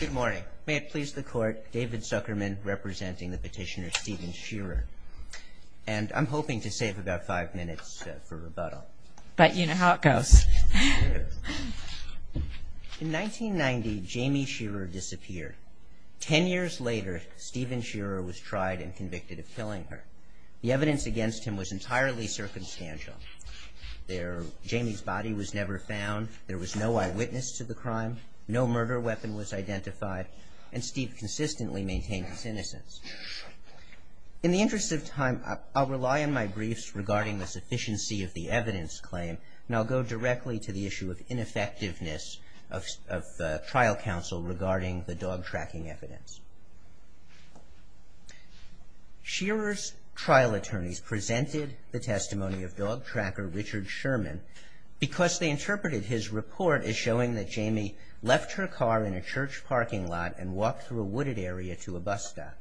Good morning. May it please the court, David Zuckerman representing the petitioner Stephen Sherer. And I'm hoping to save about five minutes for rebuttal. But you know how it goes. In 1990, Jamie Sherer disappeared. Ten years later, Stephen Sherer was tried and convicted of killing her. The evidence against him was entirely circumstantial. Jamie's body was never found. There was no eyewitness to the crime. No murder weapon was identified. And Steve consistently maintained his innocence. In the interest of time, I'll rely on my briefs regarding the sufficiency of the evidence claim. And I'll go directly to the issue of ineffectiveness of trial counsel regarding the dog tracking evidence. Sherer's trial attorneys presented the testimony of dog tracker Richard Sherman because they interpreted his report as showing that Jamie left her car in a church parking lot and walked through a wooded area to a bus stop.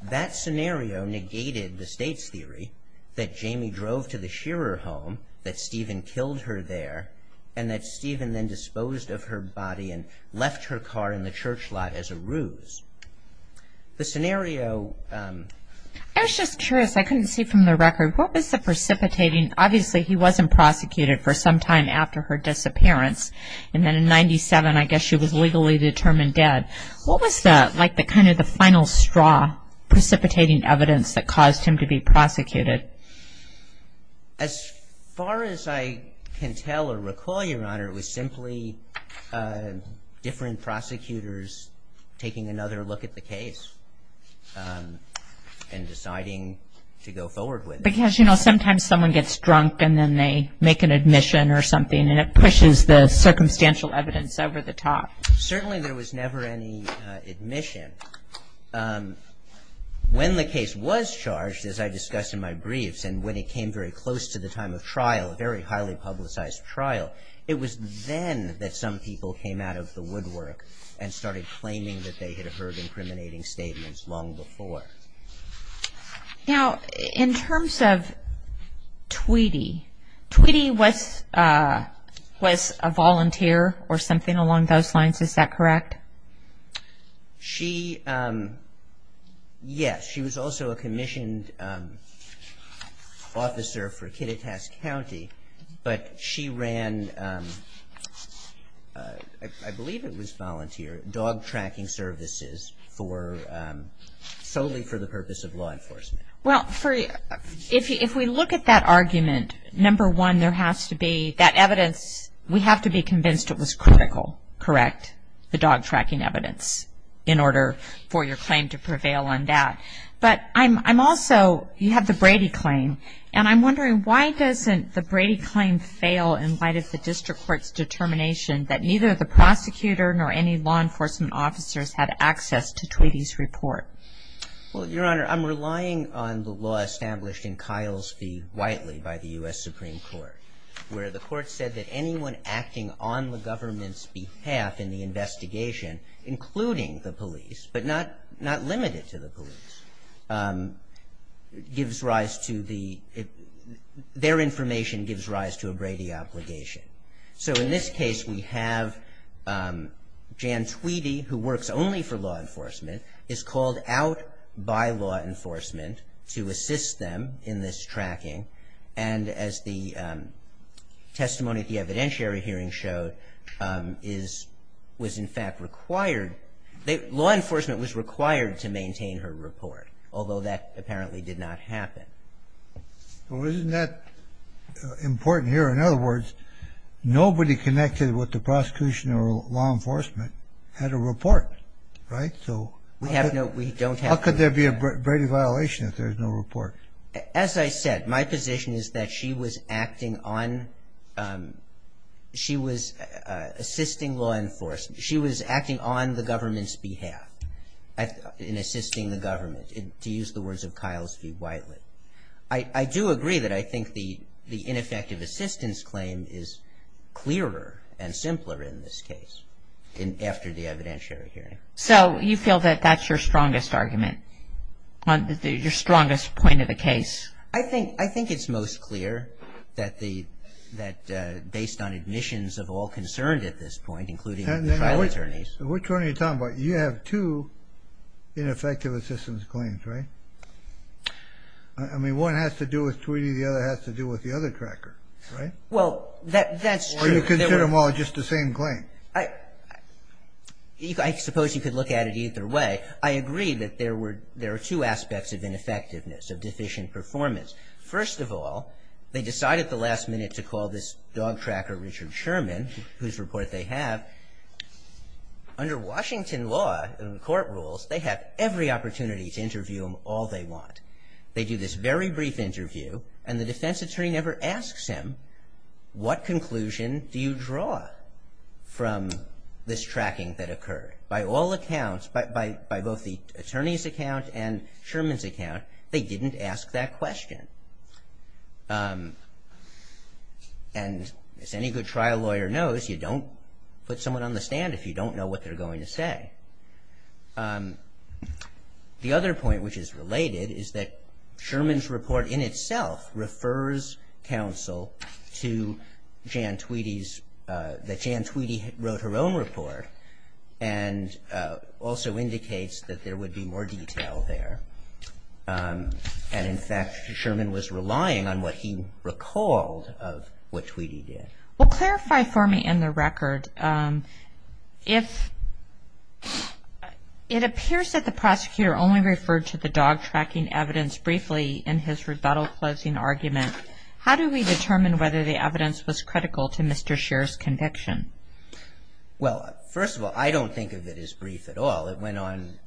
That scenario negated the state's theory that Jamie drove to the Sherer home, that Stephen killed her there, and that Stephen then disposed of her body and left her car in the church lot as a ruse. The scenario... I was just curious. I couldn't see from the record. What was the precipitating... Obviously, he wasn't prosecuted for some time after her disappearance. And then in 1997, I guess she was legally determined dead. What was the kind of the final straw precipitating evidence that caused him to be prosecuted? As far as I can tell or recall, Your Honor, it was simply different prosecutors taking another look at the case and deciding to go forward with it. Because, you know, sometimes someone gets drunk and then they make an admission or something and it pushes the circumstantial evidence over the top. Certainly, there was never any admission. When the case was charged, as I discussed in my briefs, and when it came very close to the time of trial, a very highly publicized trial, it was then that some people came out of the woodwork and started claiming that they had heard incriminating statements long before. Now, in terms of Tweedy, Tweedy was a volunteer or something along those lines. Is that correct? She, yes, she was also a commissioned officer for Kittitas County. But she ran, I believe it was volunteer dog tracking services solely for the purpose of law enforcement. Well, if we look at that argument, number one, there has to be that evidence, we have to be convinced it was critical, correct, the dog tracking evidence, in order for your claim to prevail on that. But I'm also, you have the Brady claim, and I'm wondering why doesn't the Brady claim fail in light of the district court's determination that neither the prosecutor nor any law enforcement officers had access to Tweedy's report? Well, Your Honor, I'm relying on the law established in Kyle's v. Whiteley by the U.S. Supreme Court, where the court said that anyone acting on the government's behalf in the investigation, including the police, but not limited to the police, gives rise to the, their information gives rise to a Brady obligation. So in this case, we have Jan Tweedy, who works only for law enforcement, is called out by law enforcement to assist them in this tracking, and as the testimony at the evidentiary hearing showed, is, was in fact required, law enforcement was required to maintain her report, although that apparently did not happen. Well, isn't that important here? In other words, nobody connected with the prosecution or law enforcement had a report, right? So how could there be a Brady violation if there's no report? As I said, my position is that she was acting on, she was assisting law enforcement, she was acting on the government's behalf, in assisting the government, to use the words of Kyle's v. Whiteley. I do agree that I think the ineffective assistance claim is clearer and simpler in this case, after the evidentiary hearing. So you feel that that's your strongest argument, your strongest point of the case? I think, I think it's most clear that the, that based on admissions of all concerned at this point, including the trial attorneys. Which one are you talking about? You have two ineffective assistance claims, right? I mean, one has to do with Tweedy, the other has to do with the other tracker, right? Well, that's true. Or you consider them all just the same claim? I, I suppose you could look at it either way. I agree that there were, there are two aspects of ineffectiveness, of deficient performance. First of all, they decided at the last minute to call this dog tracker, Richard Sherman, whose report they have. Under Washington law and court rules, they have every opportunity to interview him all they want. They do this very brief interview, and the defense attorney never asks him, what conclusion do you draw from this tracking that occurred? By all accounts, by, by, by both the attorney's account and Sherman's account, they didn't ask that question. And as any good trial lawyer knows, you don't put someone on the stand if you don't know what they're going to say. The other point which is related is that Sherman's report in itself refers counsel to Jan Tweedy's, that Jan Tweedy wrote her own report and also indicates that there would be more detail there. And in fact, Sherman was relying on what he recalled of what Tweedy did. Well, clarify for me in the record, if, it appears that the prosecutor only referred to the dog tracking evidence briefly in his rebuttal closing argument. How do we determine whether the evidence was critical to Mr. Scheer's conviction? Well, first of all, I don't think of it as brief at all. It went on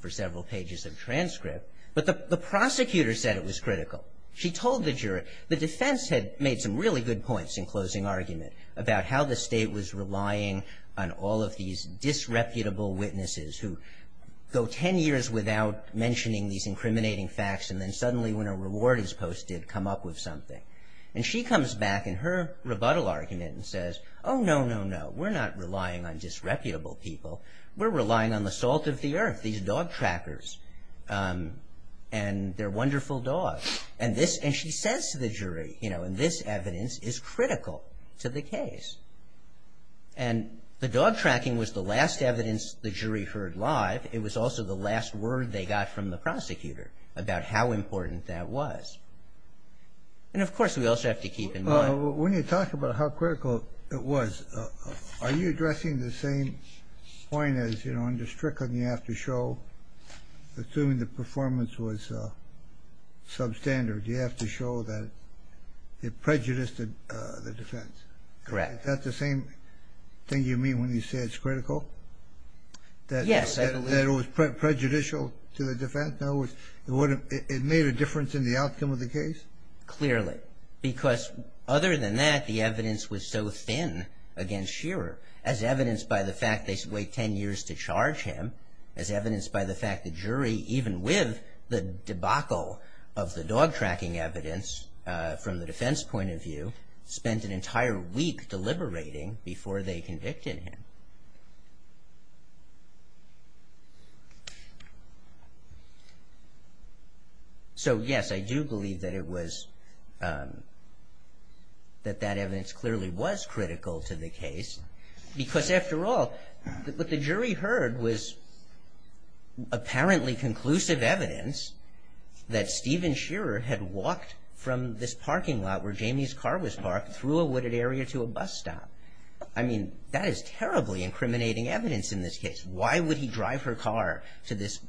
for several pages of transcript. But the prosecutor said it was critical. She told the juror, the defense had made some really good points in closing argument about how the State was relying on all of these disreputable witnesses who go ten years without mentioning these incriminating facts and then suddenly when a reward is posted, come up with something. And she comes back in her rebuttal argument and says, oh, no, no, no. We're not relying on disreputable people. We're relying on the salt of the earth, these dog trackers and their wonderful dogs. And this, and she says to the jury, you know, and this evidence is critical to the case. And the dog tracking was the last evidence the jury heard live. It was also the last word they got from the prosecutor about how important that was. And, of course, we also have to keep in mind. When you talk about how critical it was, are you addressing the same point as, you know, under Strickland you have to show, assuming the performance was substandard, you have to show that it prejudiced the defense? Correct. Is that the same thing you mean when you say it's critical? Yes, I believe. That it was prejudicial to the defense? No, it made a difference in the outcome of the case? Clearly. Because other than that, the evidence was so thin against Shearer, as evidenced by the fact they wait ten years to charge him, as evidenced by the fact the jury, even with the debacle of the dog tracking evidence, from the defense point of view, spent an entire week deliberating before they convicted him. So, yes, I do believe that it was, that that evidence clearly was critical to the case. Because, after all, what the jury heard was apparently conclusive evidence that Stephen Shearer had walked from this parking lot where Jamie's car was parked through a wooded area to a bus stop. I mean, that is terribly incriminating evidence in this case. Why would he drive her car to this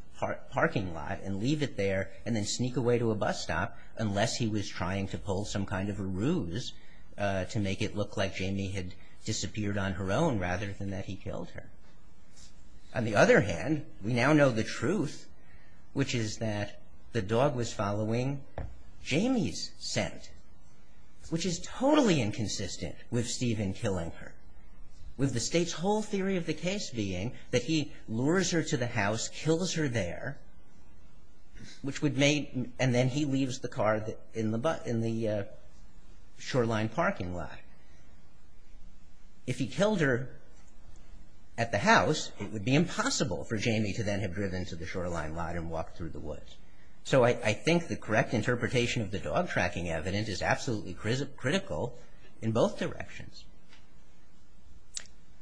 parking lot and leave it there and then sneak away to a bus stop unless he was trying to pull some kind of a ruse to make it look like Jamie had disappeared on her own rather than that he killed her? On the other hand, we now know the truth, which is that the dog was following Jamie's scent, which is totally inconsistent with Stephen killing her, with the State's whole theory of the case being that he lures her to the house, kills her there, which would make, and then he leaves the car in the shoreline parking lot. If he killed her at the house, it would be impossible for Jamie to then have driven to the shoreline lot and walked through the woods. So I think the correct interpretation of the dog tracking evidence is absolutely critical in both directions.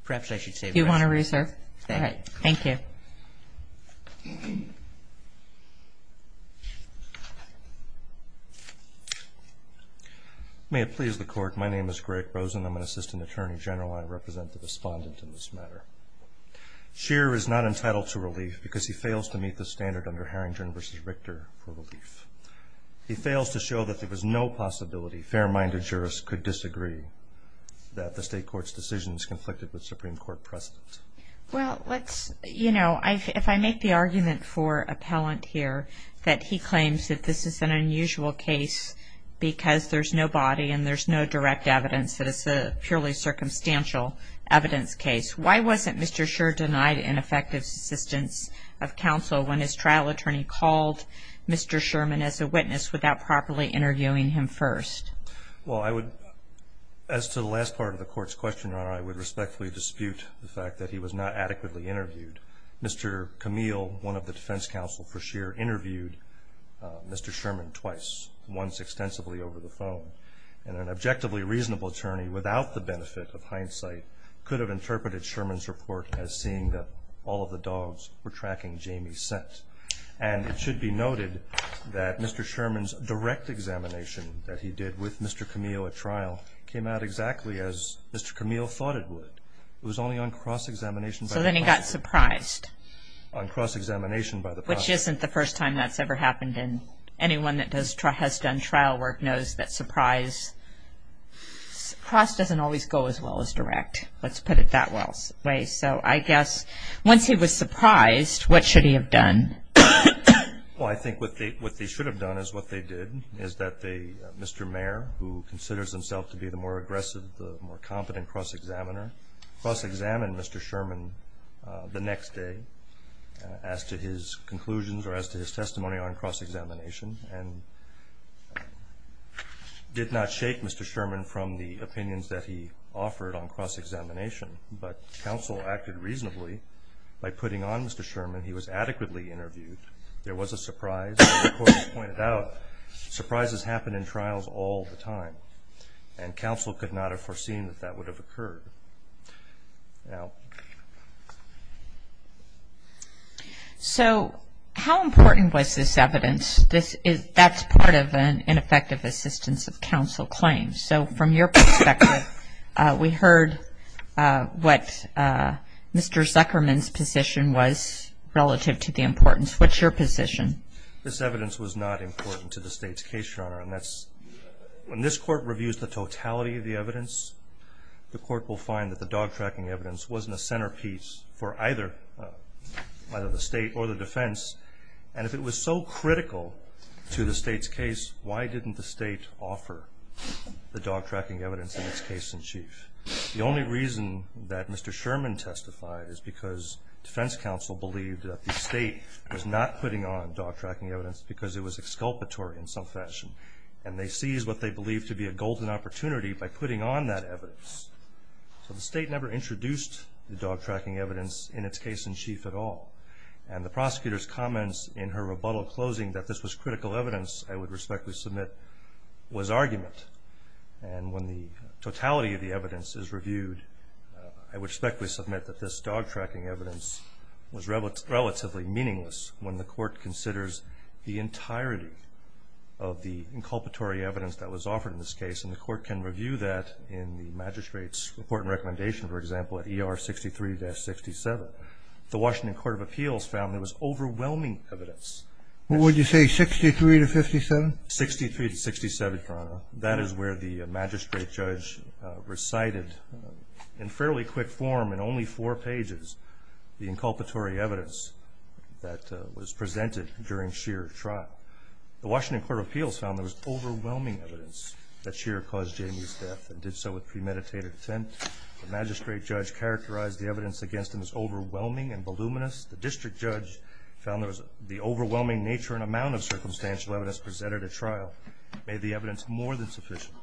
Perhaps I should say. Do you want to re-serve? Thank you. Thank you. May it please the Court, my name is Greg Rosen. I'm an Assistant Attorney General. I represent the Respondent in this matter. Shearer is not entitled to relief because he fails to meet the standard under Harrington v. Richter for relief. He fails to show that there was no possibility fair-minded jurists could disagree that the State Court's decision is conflicted with Supreme Court precedent. Well, let's, you know, if I make the argument for appellant here that he claims that this is an unusual case because there's no body and there's no direct evidence that it's a purely circumstantial evidence case, why wasn't Mr. Shearer denied an effective assistance of counsel when his trial attorney called Mr. Sherman as a witness without properly interviewing him first? Well, I would, as to the last part of the Court's question, Your Honor, I would respectfully dispute the fact that he was not adequately interviewed. Mr. Camille, one of the defense counsel for Shearer, interviewed Mr. Sherman twice, once extensively over the phone. And an objectively reasonable attorney, without the benefit of hindsight, could have interpreted Sherman's report as seeing that all of the dogs were tracking Jamie's scent. And it should be noted that Mr. Sherman's direct examination that he did with Mr. Camille at trial came out exactly as Mr. Camille thought it would. It was only on cross-examination. So then he got surprised. On cross-examination by the prosecutor. Which isn't the first time that's ever happened, and anyone that has done trial work knows that surprise, cross doesn't always go as well as direct. Let's put it that way. So I guess once he was surprised, what should he have done? Well, I think what they should have done is what they did, is that Mr. Mayer, who considers himself to be the more aggressive, the more competent cross-examiner, cross-examined Mr. Sherman the next day. As to his conclusions or as to his testimony on cross-examination. And did not shake Mr. Sherman from the opinions that he offered on cross-examination. But counsel acted reasonably by putting on Mr. Sherman. He was adequately interviewed. There was a surprise. As the court pointed out, surprises happen in trials all the time. And counsel could not have foreseen that that would have occurred. So how important was this evidence? That's part of an ineffective assistance of counsel claim. So from your perspective, we heard what Mr. Zuckerman's position was relative to the importance. What's your position? This evidence was not important to the state's case, Your Honor. When this court reviews the totality of the evidence, the court will find that the dog-tracking evidence wasn't a centerpiece for either the state or the defense. And if it was so critical to the state's case, why didn't the state offer the dog-tracking evidence in its case in chief? The only reason that Mr. Sherman testified is because defense counsel believed that the state was not putting on dog-tracking evidence because it was exculpatory in some fashion. And they seized what they believed to be a golden opportunity by putting on that evidence. So the state never introduced the dog-tracking evidence in its case in chief at all. And the prosecutor's comments in her rebuttal closing that this was critical evidence, I would respectfully submit, was argument. And when the totality of the evidence is reviewed, I would respectfully submit that this dog-tracking evidence was relatively meaningless when the court considers the entirety of the inculpatory evidence that was offered in this case. And the court can review that in the magistrate's report and recommendation, for example, at ER 63-67. The Washington Court of Appeals found there was overwhelming evidence. What would you say, 63 to 57? 63 to 67, Your Honor. That is where the magistrate judge recited in fairly quick form in only four pages the inculpatory evidence that was presented during Scheer's trial. The Washington Court of Appeals found there was overwhelming evidence that Scheer caused Jamie's death and did so with premeditated intent. The magistrate judge characterized the evidence against him as overwhelming and voluminous. The district judge found the overwhelming nature and amount of circumstantial evidence presented at trial made the evidence more than sufficient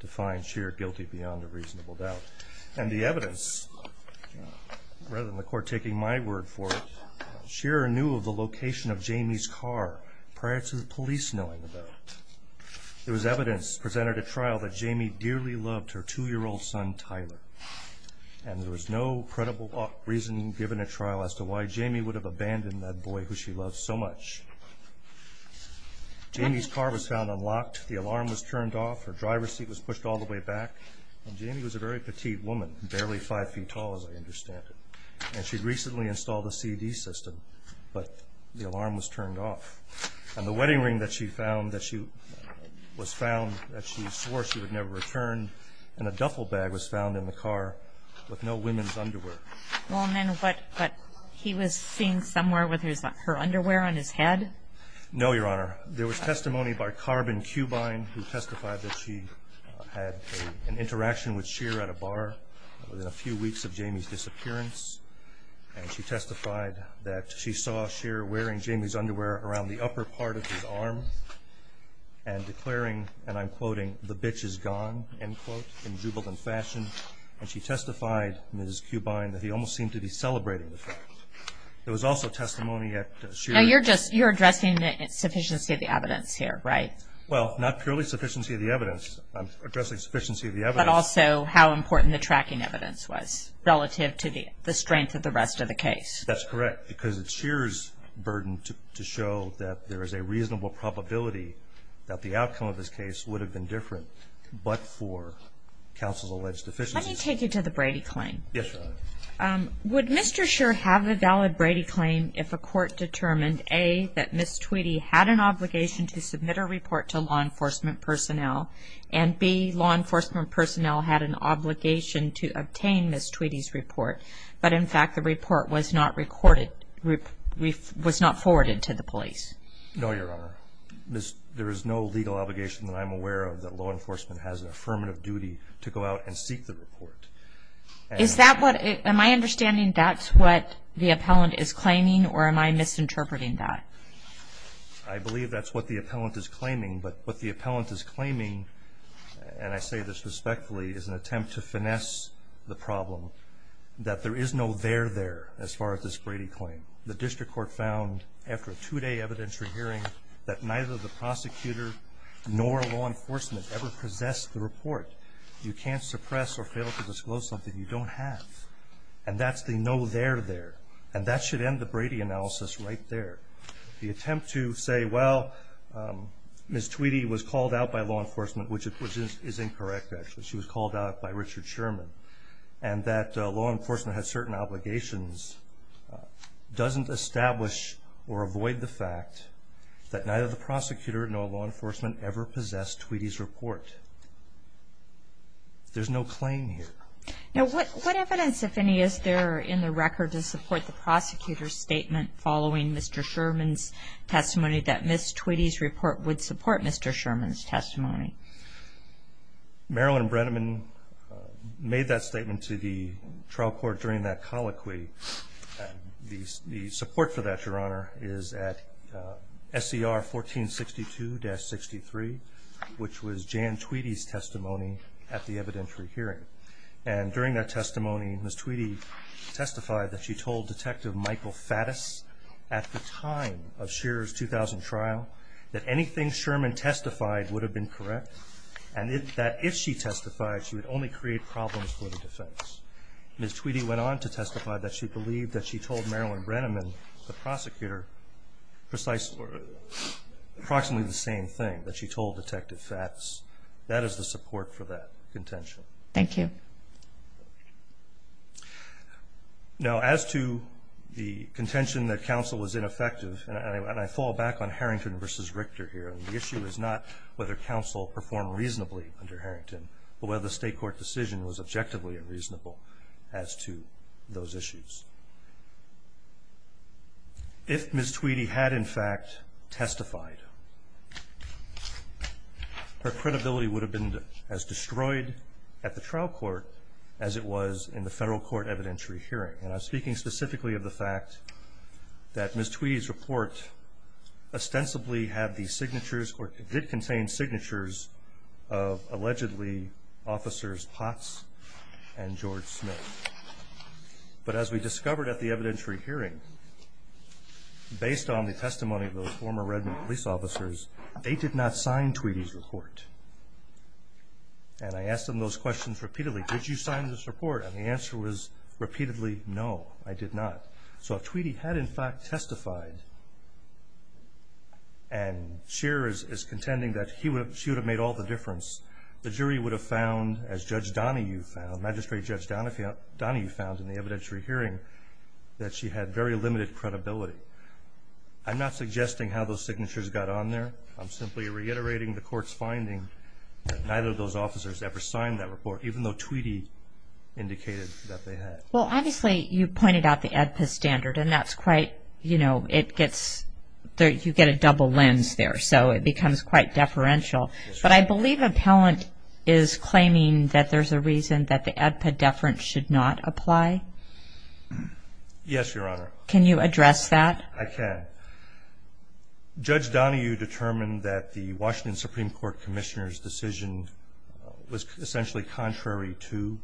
to find Scheer guilty beyond a reasonable doubt. And the evidence, rather than the court taking my word for it, Scheer knew of the location of Jamie's car prior to the police knowing about it. There was evidence presented at trial that Jamie dearly loved her two-year-old son, Tyler, and there was no credible reasoning given at trial as to why Jamie would have abandoned that boy who she loved so much. Jamie's car was found unlocked, the alarm was turned off, her driver's seat was pushed all the way back, and Jamie was a very petite woman, barely five feet tall as I understand it. And she'd recently installed a CD system, but the alarm was turned off. And the wedding ring that she found that she was found, that she swore she would never return, and a duffel bag was found in the car with no women's underwear. Well, and then what, he was seen somewhere with her underwear on his head? No, Your Honor. There was testimony by Carbon Cubine who testified that she had an interaction with Scheer at a bar within a few weeks of Jamie's disappearance. And she testified that she saw Scheer wearing Jamie's underwear around the upper part of his arm and declaring, and I'm quoting, the bitch is gone, end quote, in jubilant fashion. And she testified, Ms. Cubine, that he almost seemed to be celebrating the fact. There was also testimony at Scheer's. Now you're addressing the sufficiency of the evidence here, right? Well, not purely sufficiency of the evidence. I'm addressing sufficiency of the evidence. But also how important the tracking evidence was relative to the strength of the rest of the case. That's correct, because it's Scheer's burden to show that there is a reasonable probability that the outcome of this case would have been different but for counsel's alleged deficiencies. Let me take you to the Brady claim. Yes, Your Honor. Would Mr. Scheer have a valid Brady claim if a court determined, A, that Ms. Tweedy had an obligation to submit a report to law enforcement personnel, and B, law enforcement personnel had an obligation to obtain Ms. Tweedy's report, but in fact the report was not forwarded to the police? No, Your Honor. There is no legal obligation that I'm aware of that law enforcement has an affirmative duty to go out and seek the report. Am I understanding that's what the appellant is claiming, or am I misinterpreting that? I believe that's what the appellant is claiming. But what the appellant is claiming, and I say this respectfully, is an attempt to finesse the problem that there is no there there as far as this Brady claim. The district court found, after a two-day evidentiary hearing, that you can't suppress or fail to disclose something you don't have. And that's the no there there. And that should end the Brady analysis right there. The attempt to say, well, Ms. Tweedy was called out by law enforcement, which is incorrect, actually. She was called out by Richard Sherman. And that law enforcement has certain obligations doesn't establish or avoid the fact that neither the prosecutor nor law enforcement ever possessed Tweedy's report. There's no claim here. Now, what evidence, if any, is there in the record to support the prosecutor's statement following Mr. Sherman's testimony that Ms. Tweedy's report would support Mr. Sherman's testimony? Marilyn Brenneman made that statement to the trial court during that colloquy. The support for that, Your Honor, is at SCR 1462-63, which was Jan Tweedy's testimony at the evidentiary hearing. And during that testimony, Ms. Tweedy testified that she told Detective Michael Faddis at the time of Shearer's 2000 trial that anything Sherman testified would have been correct and that if she testified, she would only create problems for the defense. Ms. Tweedy went on to testify that she believed that she told Marilyn Brenneman, the prosecutor, approximately the same thing, that she told Detective Faddis. That is the support for that contention. Thank you. Now, as to the contention that counsel was ineffective, and I fall back on Harrington v. Richter here. The issue is not whether counsel performed reasonably under Harrington, but whether the state court decision was objectively reasonable as to those issues. If Ms. Tweedy had, in fact, testified, her credibility would have been as destroyed at the trial court as it was in the federal court evidentiary hearing. And I'm speaking specifically of the fact that Ms. Tweedy's report ostensibly had the signatures or did contain signatures of allegedly Officers Potts and George Smith. But as we discovered at the evidentiary hearing, based on the testimony of those former Redmond police officers, they did not sign Tweedy's report. And I asked them those questions repeatedly. Did you sign this report? And the answer was repeatedly, no, I did not. So if Tweedy had, in fact, testified, and Scheer is contending that she would have made all the difference, the jury would have found, as Judge Donahue found, Magistrate Judge Donahue found in the evidentiary hearing, that she had very limited credibility. I'm not suggesting how those signatures got on there. I'm simply reiterating the court's finding that neither of those officers ever signed that report, even though Tweedy indicated that they had. Well, obviously, you pointed out the AEDPA standard, and that's quite, you know, it gets, you get a double lens there, so it becomes quite deferential. But I believe Appellant is claiming that there's a reason that the AEDPA deference should not apply. Yes, Your Honor. Can you address that? I can. Judge Donahue determined that the Washington Supreme Court Commissioner's decision was essentially contrary to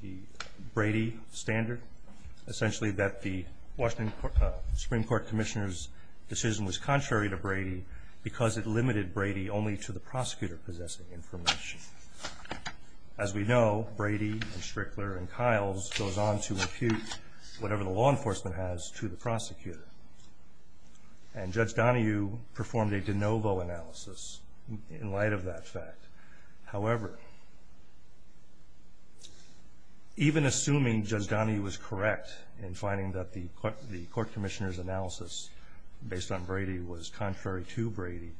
the Brady standard, essentially that the Washington Supreme Court Commissioner's decision was contrary to Brady because it limited Brady only to the prosecutor possessing information. As we know, Brady and Strickler and Kyles goes on to repute whatever the law enforcement has to the prosecutor. And Judge Donahue performed a de novo analysis in light of that fact. However, even assuming Judge Donahue was correct in finding that the court commissioner's analysis based on Brady was contrary to Brady,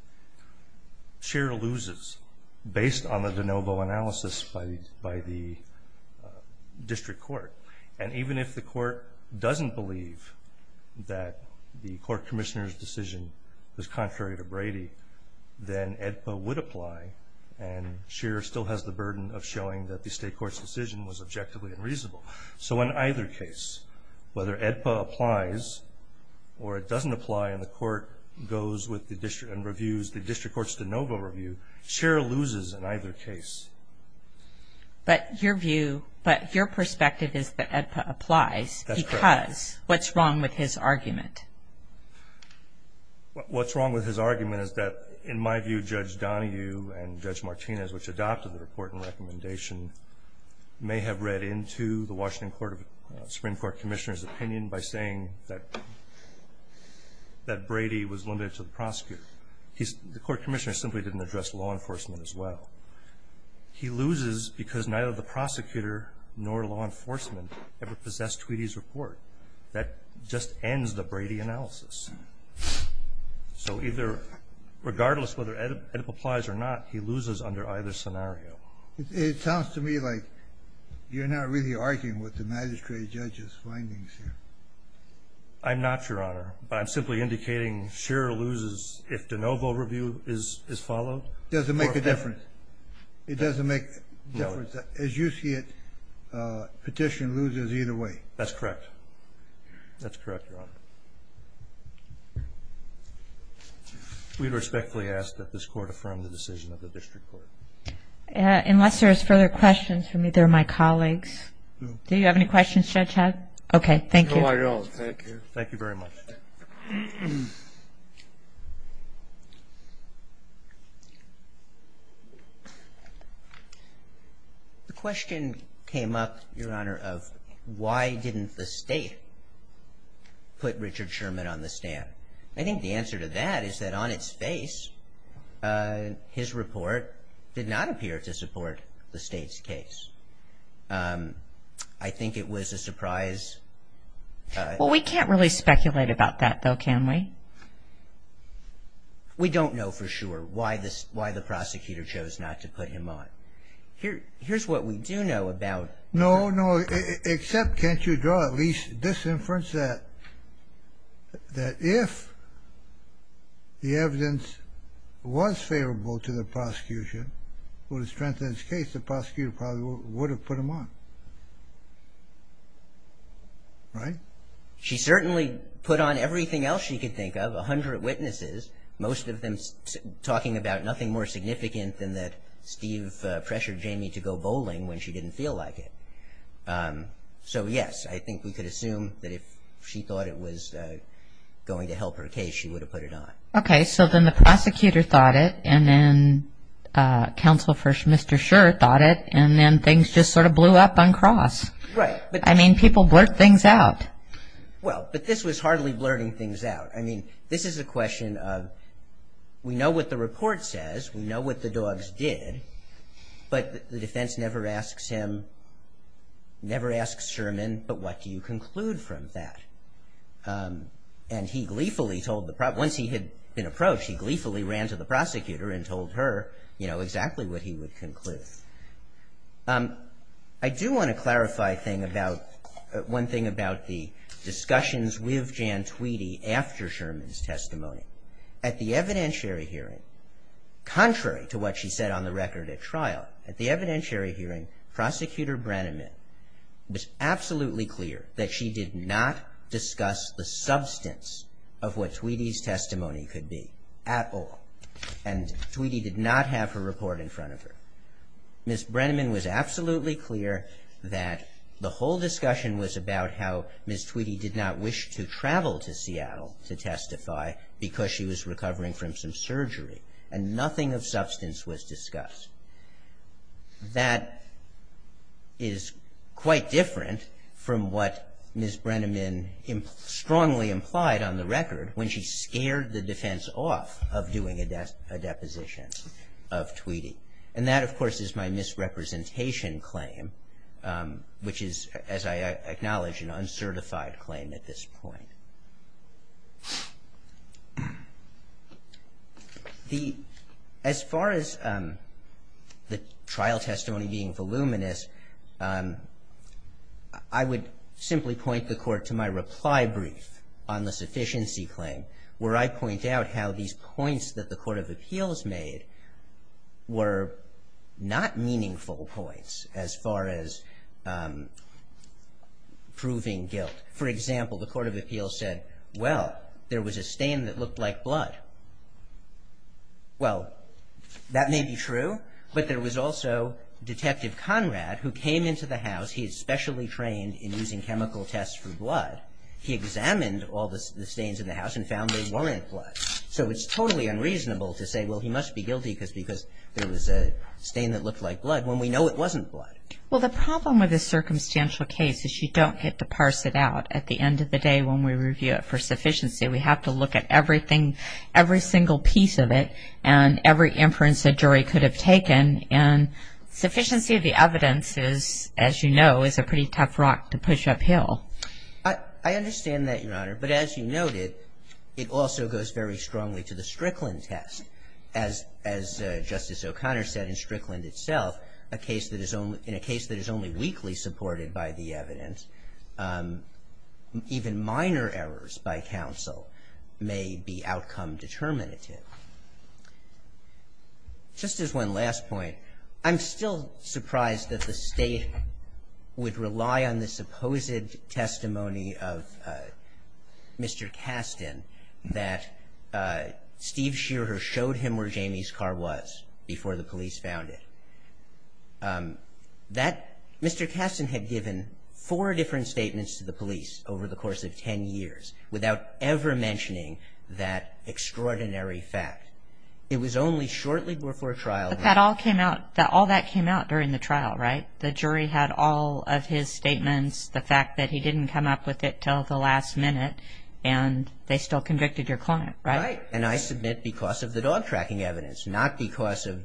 Scheer loses based on the de novo analysis by the district court. And even if the court doesn't believe that the court commissioner's decision was contrary to Brady, then AEDPA would apply, and Scheer still has the burden of showing that the state court's decision was objectively unreasonable. So in either case, whether AEDPA applies or it doesn't apply and the court goes with the district and reviews the district court's de novo review, Scheer loses in either case. But your view, but your perspective is that AEDPA applies. That's correct. Because what's wrong with his argument? What's wrong with his argument is that, in my view, Judge Donahue and Judge Martinez, which adopted the report and recommendation, may have read into the Washington Supreme Court Commissioner's opinion by saying that Brady was limited to the prosecutor. The court commissioner simply didn't address law enforcement as well. He loses because neither the prosecutor nor law enforcement ever possessed Tweedy's report. That just ends the Brady analysis. So regardless of whether AEDPA applies or not, he loses under either scenario. It sounds to me like you're not really arguing with the magistrate judge's findings here. I'm not, Your Honor. But I'm simply indicating Scheer loses if de novo review is followed. Does it make a difference? It doesn't make a difference. As you see it, petition loses either way. That's correct. That's correct, Your Honor. We would respectfully ask that this court affirm the decision of the district court. Unless there is further questions from either of my colleagues. Do you have any questions, Judge Head? Okay, thank you. No, I don't. Thank you. Thank you very much. The question came up, Your Honor, of why didn't the state put Richard Sherman on the stand? I think the answer to that is that on its face, his report did not appear to support the state's case. I think it was a surprise. Well, we can't really speculate about that, though, can we? We don't know for sure why the prosecutor chose not to put him on. Here's what we do know about it. No, no, except can't you draw at least this inference that if the evidence was favorable to the prosecution, would have strengthened his case, the prosecutor probably would have put him on, right? She certainly put on everything else she could think of, a hundred witnesses, most of them talking about nothing more significant than that Steve pressured Jamie to go bowling when she didn't feel like it. So, yes, I think we could assume that if she thought it was going to help her case, she would have put it on. Okay, so then the prosecutor thought it, and then Counsel for Mr. Scherr thought it, and then things just sort of blew up on cross. Right. I mean, people blurt things out. Well, but this was hardly blurting things out. I mean, this is a question of we know what the report says, we know what the dogs did, but the defense never asks him, never asks Sherman, but what do you conclude from that? And he gleefully told the, once he had been approached, he gleefully ran to the prosecutor and told her, you know, exactly what he would conclude. I do want to clarify a thing about, one thing about the discussions with Jan Tweedy after Sherman's testimony. At the evidentiary hearing, contrary to what she said on the record at trial, at the evidentiary hearing, Prosecutor Brenneman was absolutely clear that she did not discuss the substance of what Tweedy's testimony could be at all, and Tweedy did not have her report in front of her. Ms. Brenneman was absolutely clear that the whole discussion was about how Ms. Tweedy did not wish to travel to Seattle to testify because she was recovering from some surgery, and nothing of substance was discussed. That is quite different from what Ms. Brenneman strongly implied on the record when she scared the defense off of doing a deposition of Tweedy. And that, of course, is my misrepresentation claim, which is, as I acknowledge, an uncertified claim at this point. As far as the trial testimony being voluminous, I would simply point the Court to my reply brief on the sufficiency claim, where I point out how these points that the Court of Appeals made were not meaningful points as far as proving guilt. For example, the Court of Appeals said, well, there was a stain that looked like blood. Well, that may be true, but there was also Detective Conrad who came into the house. He is specially trained in using chemical tests for blood. He examined all the stains in the house and found they weren't blood. So it's totally unreasonable to say, well, he must be guilty because there was a stain that looked like blood, when we know it wasn't blood. Well, the problem with a circumstantial case is you don't get to parse it out. At the end of the day, when we review it for sufficiency, we have to look at everything, every single piece of it and every inference a jury could have taken. And sufficiency of the evidence is, as you know, is a pretty tough rock to push uphill. I understand that, Your Honor, but as you noted, it also goes very strongly to the Strickland test. As Justice O'Connor said, in Strickland itself, in a case that is only weakly supported by the evidence, even minor errors by counsel may be outcome determinative. Just as one last point, I'm still surprised that the State would rely on the supposed testimony of Mr. Kasten that Steve Shearer showed him where Jamie's car was before the police found it. Mr. Kasten had given four different statements to the police over the course of ten years without ever mentioning that extraordinary fact. It was only shortly before trial. But all that came out during the trial, right? The jury had all of his statements, the fact that he didn't come up with it until the last minute, and they still convicted your client, right? Right, and I submit because of the dog-tracking evidence, not because of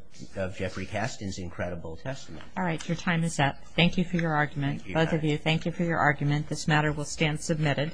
Jeffrey Kasten's incredible testimony. All right, your time is up. Thank you for your argument. Both of you, thank you for your argument. This matter will stand submitted.